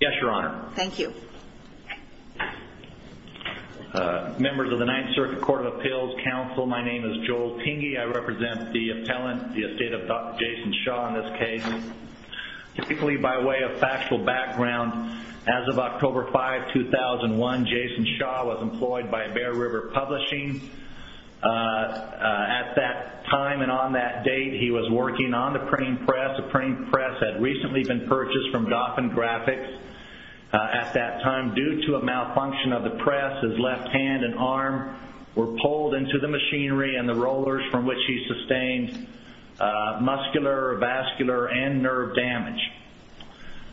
Yes your honor. Thank you. Members of the Ninth Circuit Court of Appeals Council my name is Joel Tenge. I represent the appellant the estate of Dr. Jason Shaw in this case. Typically by way of factual background as of October 5 2001 Jason Shaw was employed by Bear River Publishing. At that time and on that date he was working on the printing press. The printing press had recently been put off in graphics. At that time due to a malfunction of the press his left hand and arm were pulled into the machinery and the rollers from which he sustained muscular vascular and nerve damage.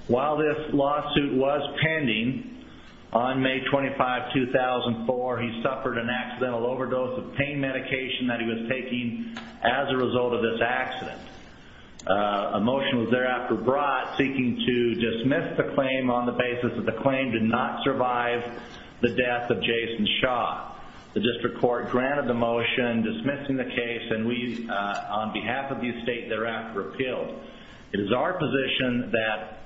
While this lawsuit was pending on May 25 2004 he suffered an accidental overdose of pain medication that he was taking as a result of this accident. A motion was thereafter brought seeking to dismiss the claim on the basis that the claim did not survive the death of Jason Shaw. The district court granted the motion dismissing the case and we on behalf of the estate thereafter appealed. It is our position that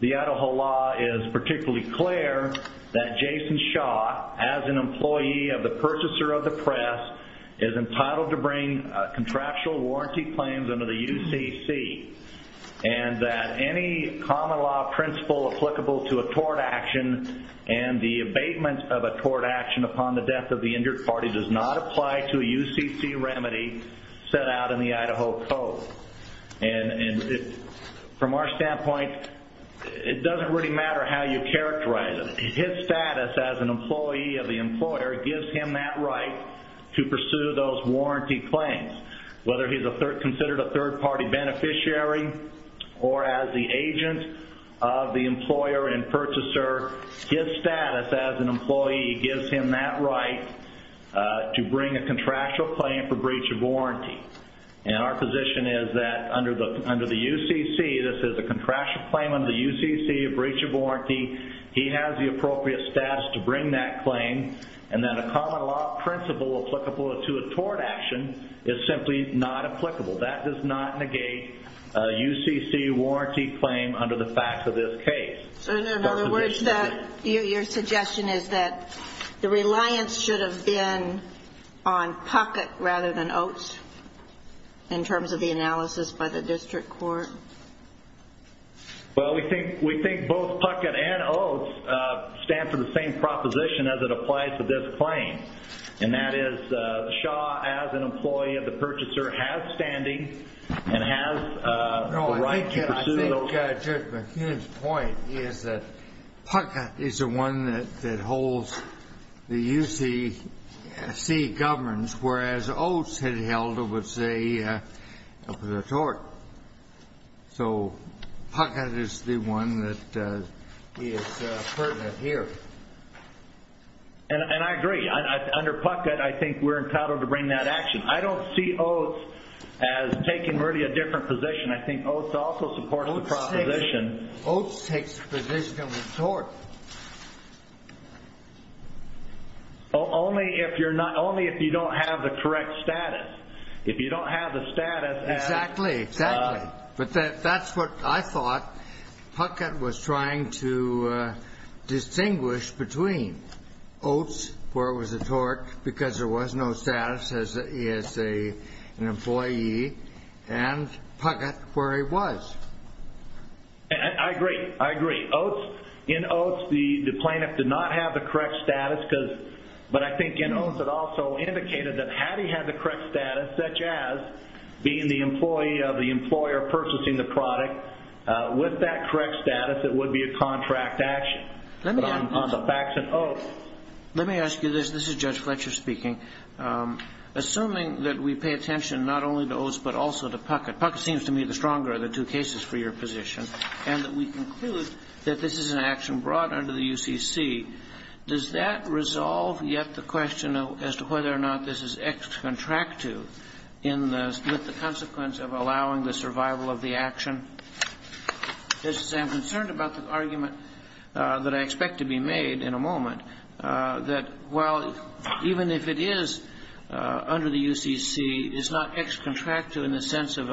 the Idaho law is particularly clear that Jason Shaw as an employee of the purchaser of the press is entitled to bring contractual warranty claims under the UCC and that any common law principle applicable to a tort action and the abatement of a tort action upon the death of the injured party does not apply to a UCC remedy set out in the Idaho Code. From our standpoint it doesn't really matter how you characterize it. His status as an employee of the employer gives him that right to pursue those warranty claims. Whether he's considered a third party beneficiary or as the agent of the employer and purchaser, his status as an employee gives him that right to bring a contractual claim for breach of warranty. Our position is that under the UCC, this is a contractual claim under the UCC, a breach of warranty, he has the appropriate status to bring that claim and then a common law principle applicable to a tort action is simply not applicable. That does not negate a UCC warranty claim under the facts of this case. In other words, your suggestion is that the reliance should have been on PUCCOT rather than OATS in terms of the analysis by the district court? Well, we think both PUCCOT and OATS stand for the same proposition as it applies to this claim, and that is Shaw as an employee of the purchaser has standing and has the right to pursue those claims. No, I think Judge McKeon's point is that PUCCOT is the one that holds the UCC governs, whereas OATS had held it was a tort. So PUCCOT is the one that is pertinent here. And I agree. Under PUCCOT, I think we're entitled to bring that action. I don't see OATS as taking really a different position. I think OATS also supports the proposition. OATS takes the position of a tort. Only if you don't have the correct status. If you don't have the status as... OATS, where it was a tort because there was no status as an employee, and PUCCOT where he was. I agree. I agree. In OATS, the plaintiff did not have the correct status, but I think in OATS it also indicated that had he had the correct status, such as being the employee of the employer purchasing the product, with that correct status it would be a contract action. Let me ask you this. This is Judge Fletcher speaking. Assuming that we pay attention not only to OATS but also to PUCCOT, PUCCOT seems to me the stronger of the two cases for your position, and that we conclude that this is an action brought under the UCC, does that resolve yet the question as to whether or not this is ex-contractu with the consequence of allowing the survival of the action? I'm concerned about the argument that I expect to be made in a moment, that while even if it is under the UCC, it's not ex-contractu in the sense of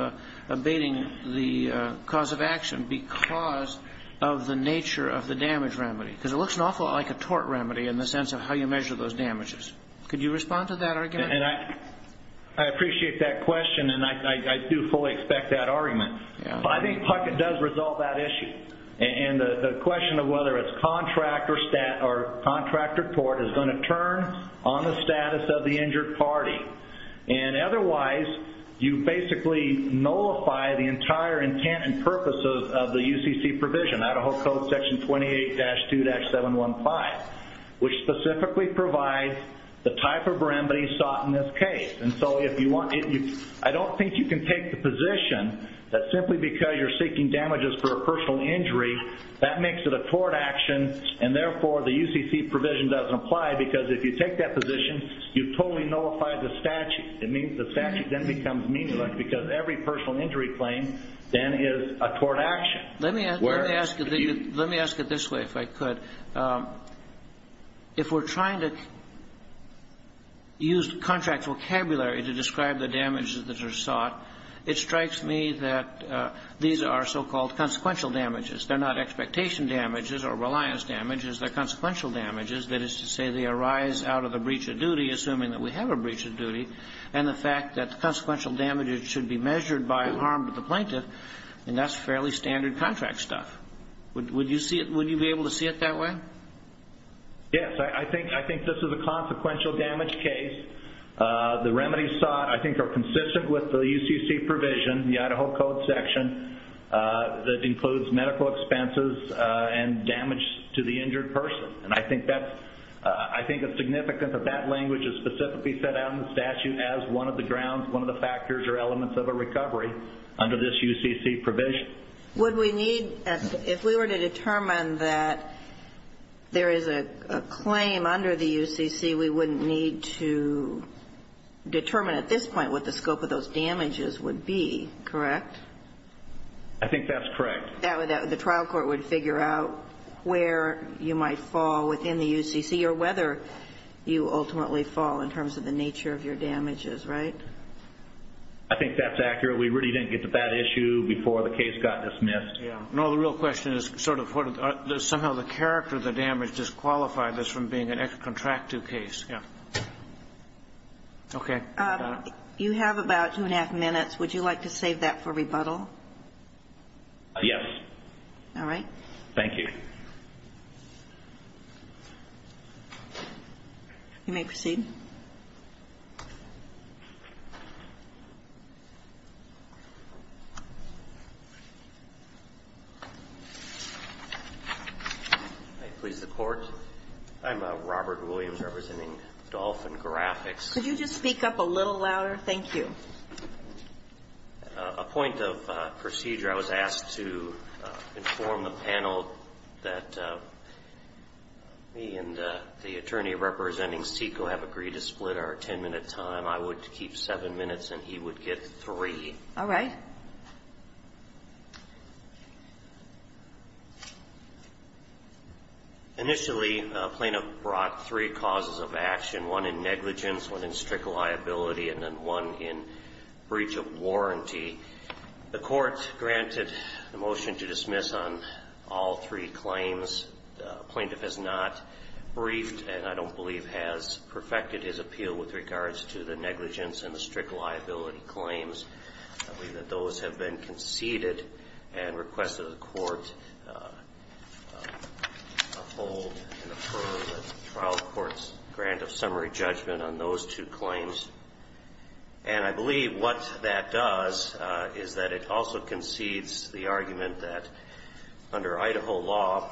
abating the cause of action because of the nature of the damage remedy. Because it looks an awful lot like a tort remedy in the sense of how you measure those damages. Could you respond to that argument? I appreciate that question and I do fully expect that argument. I think PUCCOT does resolve that issue. And the question of whether it's contract or tort is going to turn on the status of the injured party. And otherwise, you basically nullify the entire intent and purpose of the UCC provision, Idaho Code Section 28-2-715, which specifically provides the type of remedy sought in this case. I don't think you can take the position that simply because you're seeking damages for a personal injury, that makes it a tort action, and therefore the UCC provision doesn't apply because if you take that position, you've totally nullified the statute. It means the statute then becomes meaningless because every personal injury claim then is a tort action. Let me ask it this way, if I could. If we're trying to use contract vocabulary to describe the damages that are sought, it strikes me that these are so-called consequential damages. They're not expectation damages or reliance damages. They're consequential damages, that is to say they arise out of a breach of duty, assuming that we have a breach of duty. And the fact that consequential damages should be measured by harm to the plaintiff and that's fairly standard contract stuff. Would you be able to see it that way? Yes, I think this is a consequential damage case. The remedies sought, I think, are consistent with the UCC provision, the Idaho Code Section, that includes medical expenses and damage to the injured person. I think it's significant that that language is specifically set out in the statute as one of the grounds, one of the factors or elements of a recovery under this UCC provision. Would we need, if we were to determine that there is a claim under the UCC, we wouldn't need to determine at this point what the scope of those damages would be, correct? I think that's correct. The trial court would figure out where you might fall within the UCC or whether you ultimately fall in terms of the nature of your damages, right? I think that's accurate. We really didn't get to that issue before the case got dismissed. No, the real question is, somehow the character of the damage disqualified this from being a contractual case. You have about two and a half minutes. Would you like to save that for rebuttal? Yes. All right. Thank you. You may proceed. May it please the Court? I'm Robert Williams, representing Dolphin Graphics. Could you just speak up a little louder? Thank you. A point of procedure. I was asked to inform the panel that me and the attorney representing SECO have agreed to split our ten-minute time. I would keep seven minutes and he would get three. All right. Initially, a plaintiff brought three causes of action, one in negligence, one in breach of warranty. The Court granted a motion to dismiss on all three claims. The plaintiff has not briefed and I don't believe has perfected his appeal with regards to the negligence and the strict liability claims. I believe that those have been conceded and requested the Court uphold and affirm the trial court's grant of summary judgment on those two claims. And I believe what that does is that it also concedes the argument that under Idaho law,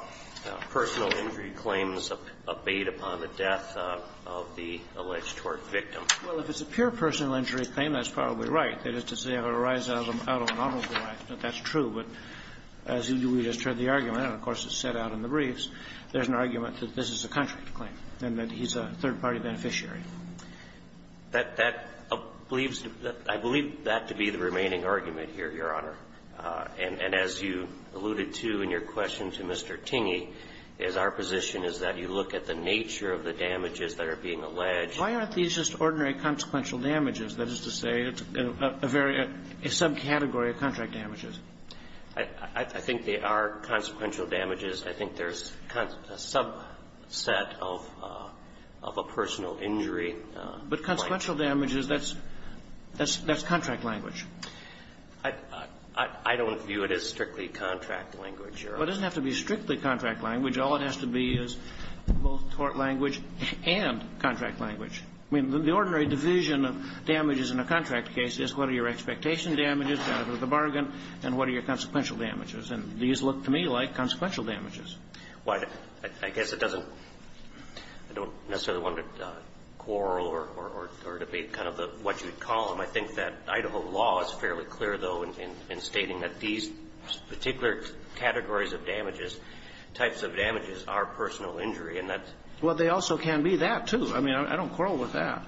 personal injury claims abate upon the death of the alleged tort victim. Well, if it's a pure personal injury claim, that's probably right. That is to say, it would arise out of an automobile accident. That's true. But as we just heard the argument, and of course it's set out in the briefs, there's an argument that this is a country claim and that he's a third-party beneficiary. That believes, I believe that to be the remaining argument here, Your Honor. And as you alluded to in your question to Mr. Tingey, is our position is that you look at the nature of the damages that are being alleged. Why aren't these just ordinary consequential damages? That is to say, it's a very, a subcategory of contract damages. I think they are consequential damages. I think there's a subset of a personal injury. But consequential damages, that's contract language. I don't view it as strictly contract language, Your Honor. Well, it doesn't have to be strictly contract language. All it has to be is both tort language and contract language. I mean, the ordinary division of damages in a contract case is what are your expectation damages down to the bargain and what are your consequential damages. And these look to me like consequential damages. Well, I guess it doesn't, I don't necessarily want to quarrel or debate kind of what you would call them. I think that Idaho law is fairly clear, though, in stating that these particular categories of damages, types of damages, are personal injury. And that's why they also can be that, too. I mean, I don't quarrel with that.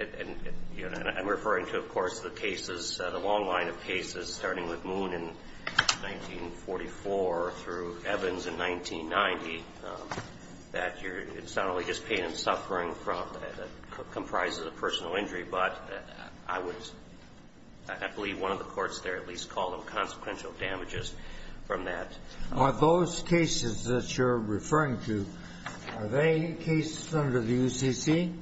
And, Your Honor, I'm referring to, of course, the cases, the long line of cases starting with Moon in 1944 through Evans in 1990, that you're, it's not only just pain and suffering from, that comprises a personal injury, but I would, I believe one of the courts there at least called them consequential damages from that. Are those cases that you're referring to, are they cases under the UCC?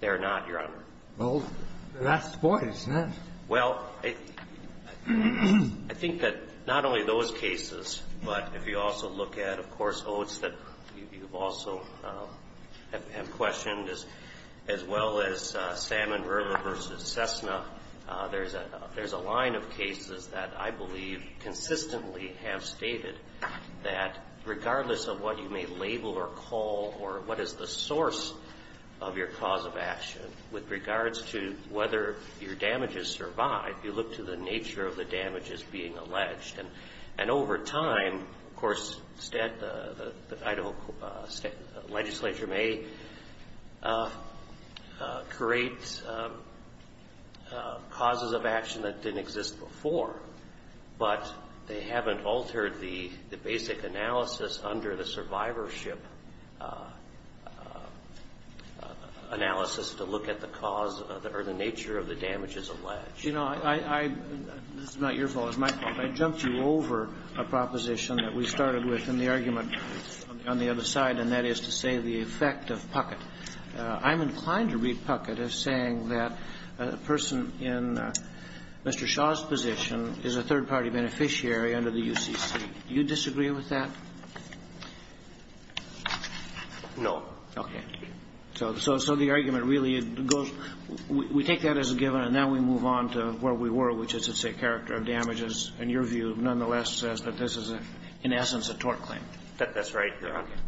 They're not, Your Honor. Well, that's the point, isn't it? Well, I think that not only those cases, but if you also look at, of course, oaths that you've also have questioned, as well as Salmon Verla versus Cessna, there's a line of cases that I believe consistently have stated that regardless of what you may label or call or what is the source of your cause of action with regards to whether your damages survive, you look to the nature of the damages being alleged. And over time, of course, the Idaho legislature may create causes of action that didn't exist before, but they haven't altered the basic analysis under the nature of the damages alleged. You know, I, I, this is not your fault. It's my fault. I jumped you over a proposition that we started with in the argument on the other side, and that is to say the effect of Puckett. I'm inclined to read Puckett as saying that the person in Mr. Shaw's position is a third-party beneficiary under the UCC. Do you disagree with that? No. Okay. So, so, so the argument really goes, we take that as a given, and now we move on to where we were, which is it's a character of damages, in your view, nonetheless says that this is, in essence, a tort claim. That's right.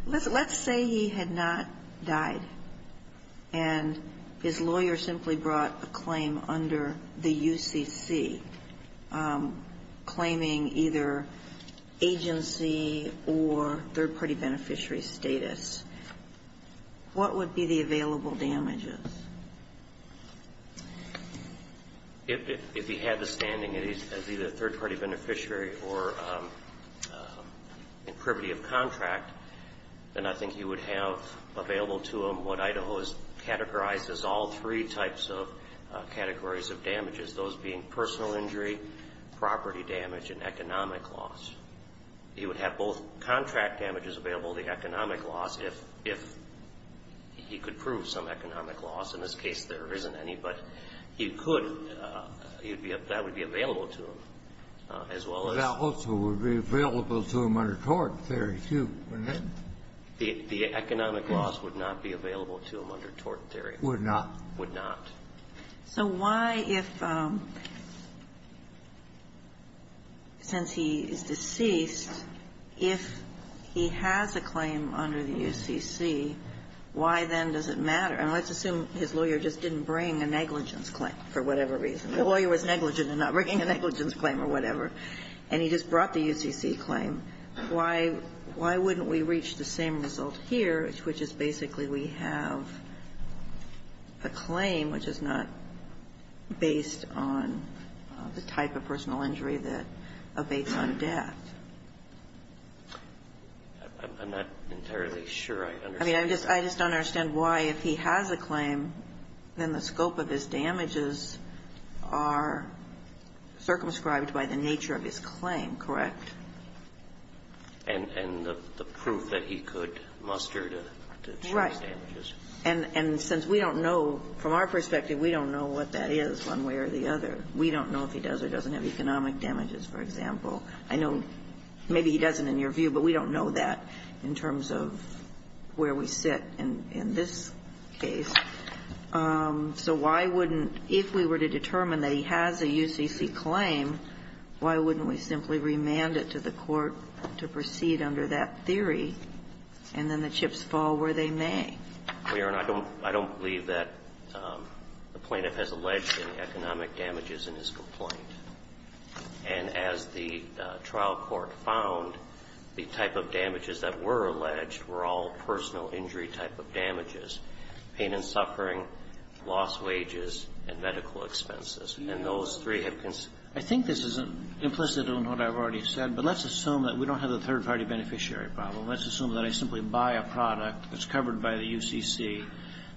Let's say he had not died, and his lawyer simply brought a claim under the UCC, claiming either agency or third-party beneficiary status. What would be the available damages? If he had the standing as either a third-party beneficiary or in privity of contract, then I think he would have available to him what Idaho has categorized as all three types of categories of damages, those being personal injury, property damage, and economic loss. He would have both contract damages available, the economic loss, if he could prove some economic loss. In this case, there isn't any, but he could. That would be available to him, as well as… That also would be available to him under tort theory, too, wouldn't it? The economic loss would not be available to him under tort theory. Would not. Would not. So why if, since he is deceased, if he has a claim under the UCC, why then does it matter? And let's assume his lawyer just didn't bring a negligence claim, for whatever reason. The lawyer was negligent in not bringing a negligence claim or whatever, and he just brought the UCC claim. Why wouldn't we reach the same result here, which is basically we have a claim which is not based on the type of personal injury that abates on death? I'm not entirely sure I understand. I mean, I just don't understand why, if he has a claim, then the scope of his damages are circumscribed by the nature of his claim, correct? And the proof that he could muster to charge damages. Right. And since we don't know, from our perspective, we don't know what that is one way or the other. We don't know if he does or doesn't have economic damages, for example. I know maybe he doesn't in your view, but we don't know that in terms of where we sit in this case. So why wouldn't, if we were to determine that he has a UCC claim, why wouldn't we simply remand it to the court to proceed under that theory, and then the chips fall where they may? Well, Your Honor, I don't believe that the plaintiff has alleged any economic damages in his complaint. And as the trial court found, the type of damages that were alleged were all personal injury type of damages, pain and suffering, lost wages, and medical expenses. And those three have concerns. I think this is implicit in what I've already said, but let's assume that we don't have a third-party beneficiary problem. Let's assume that I simply buy a product that's covered by the UCC,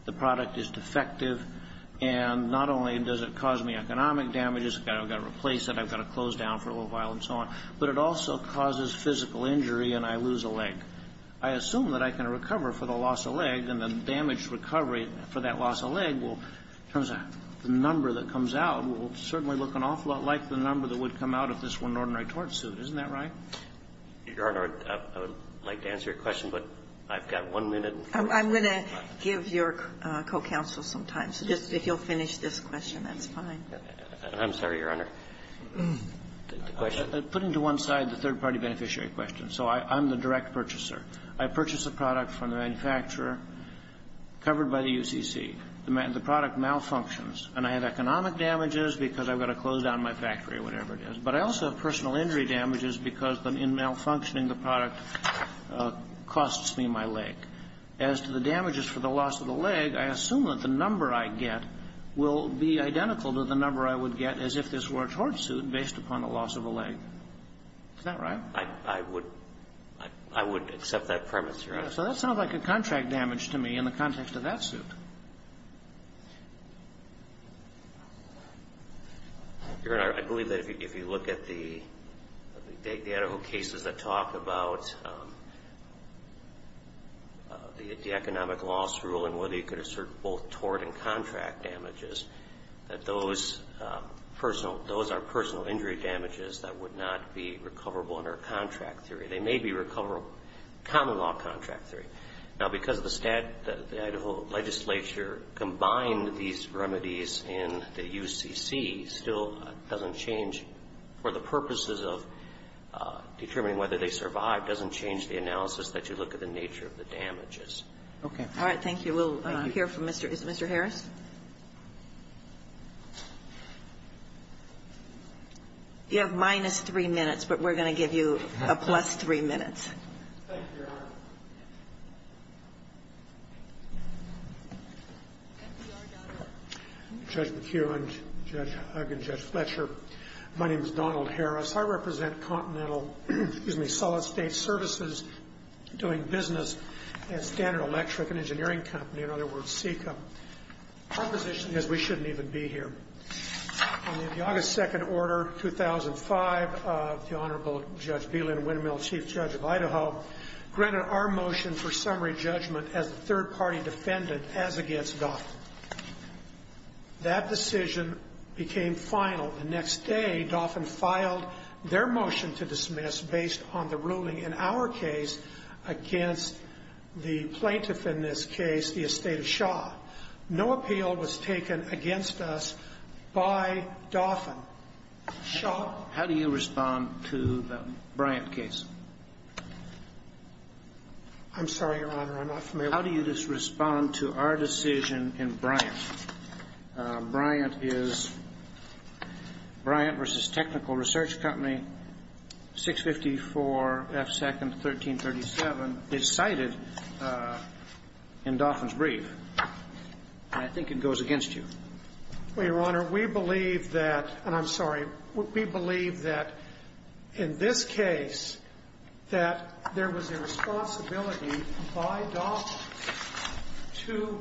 the product is defective, and not only does it cause me economic damages, I've got to replace it, I've got to close down for a little while and so on, but it also causes physical injury and I lose a leg. I assume that I can recover for the loss of leg and the damage recovery for that loss of leg will, in terms of the number that comes out, will certainly look an awful lot like the number that would come out if this were an ordinary tort suit. Isn't that right? Your Honor, I would like to answer your question, but I've got one minute. I'm going to give your co-counsel some time. So just if you'll finish this question, that's fine. I'm sorry, Your Honor. The question. Putting to one side the third-party beneficiary question. So I'm the direct purchaser. I purchase a product from the manufacturer covered by the UCC. The product malfunctions. And I have economic damages because I've got to close down my factory or whatever it is, but I also have personal injury damages because in malfunctioning the product costs me my leg. As to the damages for the loss of the leg, I assume that the number I get will be identical to the number I would get as if this were a tort suit based upon the loss of a leg. Is that right? I would accept that premise, Your Honor. So that sounds like a contract damage to me in the context of that suit. Your Honor, I believe that if you look at the Idaho cases that talk about the economic loss rule and whether you could assert both tort and contract damages, that those are personal injury damages that would not be recoverable under contract theory. They may be recoverable under common law contract theory. Now, because the Idaho legislature combined these remedies in the UCC still doesn't change for the purposes of determining whether they survive, doesn't change the analysis that you look at the nature of the damages. Okay. All right. Thank you. We'll hear from Mr. Harris. You have minus three minutes, but we're going to give you a plus three minutes. Thank you, Your Honor. Judge McHugh and Judge Hugg and Judge Fletcher, my name is Donald Harris. I represent Continental, excuse me, Solid State Services doing business at Standard Electric, an engineering company, in other words, SECA. Our position is we shouldn't even be here. On the August 2nd order, 2005, the Honorable Judge Bieland-Wintermill, Chief Judge of Idaho, granted our motion for summary judgment as a third-party defendant as against Dauphin. That decision became final. The next day, Dauphin filed their motion to dismiss based on the ruling in our case against the plaintiff in this case, the estate of Shaw. No appeal was taken against us by Dauphin. Shaw. How do you respond to the Bryant case? I'm sorry, Your Honor, I'm not familiar. How do you respond to our decision in Bryant? Bryant is Bryant v. Technical Research Company, 654 F. 2nd, 1337. It's cited in Dauphin's brief, and I think it goes against you. Well, Your Honor, we believe that, and I'm sorry, we believe that in this case that there was a responsibility by Dauphin to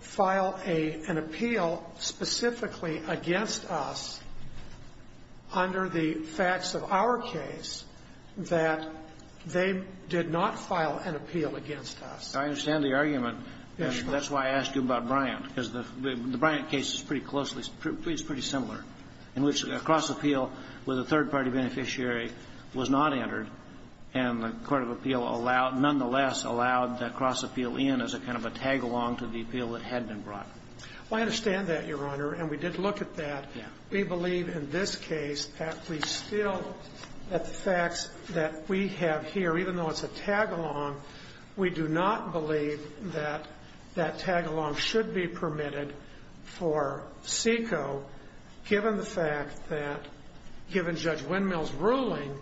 file an appeal specifically against us under the facts of our case that they did not file an appeal against us. I understand the argument, and that's why I asked you about Bryant, because the Bryant case is pretty closely, it's pretty similar, in which a cross-appeal with a third-party beneficiary was not entered, and the court of appeal allowed, nonetheless allowed the cross-appeal in as a kind of a tag-along to the appeal that had been brought. I understand that, Your Honor, and we did look at that. We believe in this case that we still, that the facts that we have here, even though it's a tag-along, we do not believe that that tag-along should be permitted for SECO given the fact that, given Judge Windmill's ruling,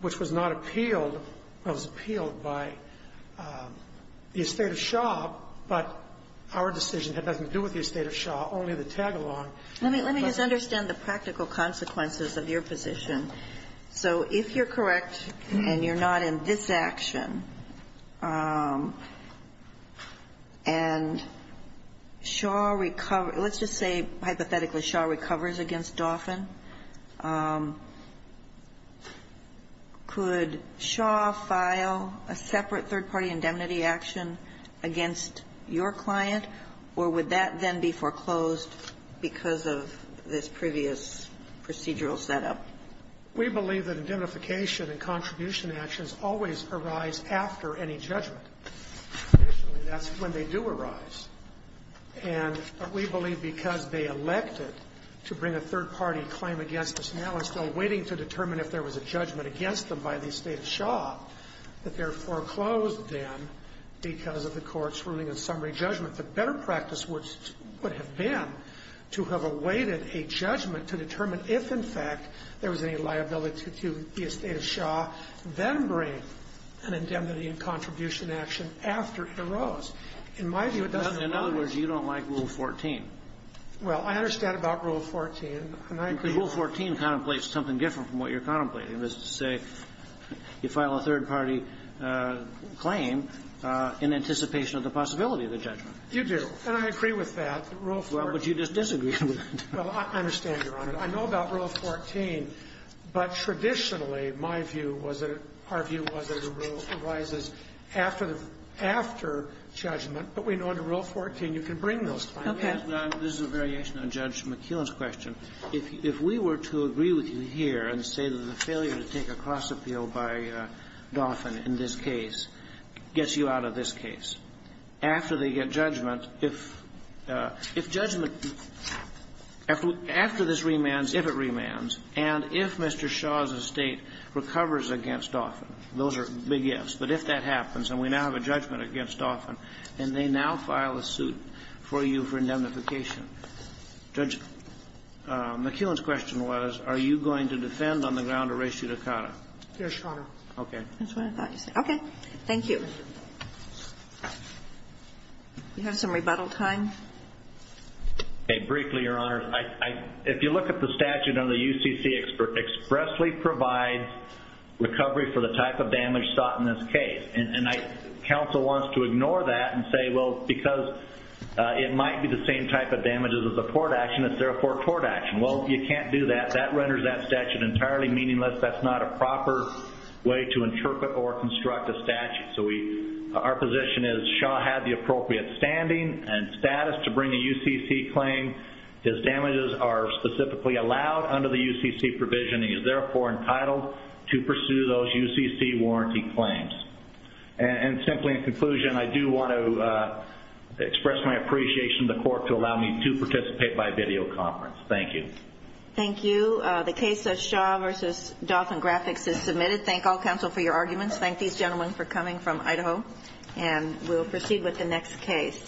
which was not appealed, was appealed by the estate of Shaw, but our decision had nothing to do with the estate of Shaw, only the tag-along. Let me just understand the practical consequences of your position. So if you're correct and you're not in this action, and Shaw recovers, let's just say hypothetically Shaw recovers against Dauphin, could Shaw file a separate third-party indemnity action against your client, or would that then be foreclosed because of this previous procedural setup? We believe that indemnification and contribution actions always arise after any judgment. Traditionally, that's when they do arise. And we believe because they elected to bring a third-party claim against us now and still waiting to determine if there was a judgment against them by the estate of Shaw, that they're foreclosed then because of the Court's ruling in summary judgment. The better practice would have been to have awaited a judgment to determine if, in fact, there was any liability to the estate of Shaw, then bring an indemnity and contribution action after it arose. In my view, it doesn't arise. In other words, you don't like Rule 14. Well, I understand about Rule 14, and I agree with that. Rule 14 contemplates something different from what you're contemplating, which is to say you file a third-party claim in anticipation of the possibility of the judgment. You do, and I agree with that. Rule 14. Well, but you just disagree with it. Well, I understand, Your Honor. I know about Rule 14, but traditionally, my view was that it – our view was that a rule arises after the – after judgment. But we know under Rule 14, you can bring those claims. Okay. This is a variation on Judge McKeown's question. If we were to agree with you here and say that the failure to take a cross-appeal by Dauphin in this case gets you out of this case, after they get judgment, if judgment – after this remands, if it remands, and if Mr. Shaw's estate recovers against Dauphin, those are big ifs, but if that happens and we now have a judgment against Dauphin and they now file a suit for you for indemnification, Judge McKeown's question was, are you going to defend on the ground of res judicata? Yes, Your Honor. Okay. That's what I thought you said. Okay. Thank you. Do you have some rebuttal time? Okay. Briefly, Your Honor, if you look at the statute under the UCC, it expressly provides recovery for the type of damage sought in this case. And counsel wants to ignore that and say, well, because it might be the same type of damages as a court action, it's therefore a court action. Well, you can't do that. That renders that statute entirely meaningless. That's not a proper way to interpret or construct a statute. Our position is Shaw had the appropriate standing and status to bring a UCC claim. His damages are specifically allowed under the UCC provision. He is therefore entitled to pursue those UCC warranty claims. And simply in conclusion, I do want to express my appreciation to the court to allow me to participate by videoconference. Thank you. Thank you. The case of Shaw v. Dauphin Graphics is submitted. Thank all counsel for your arguments. Thank these gentlemen for coming from Idaho. And we'll proceed with the next case.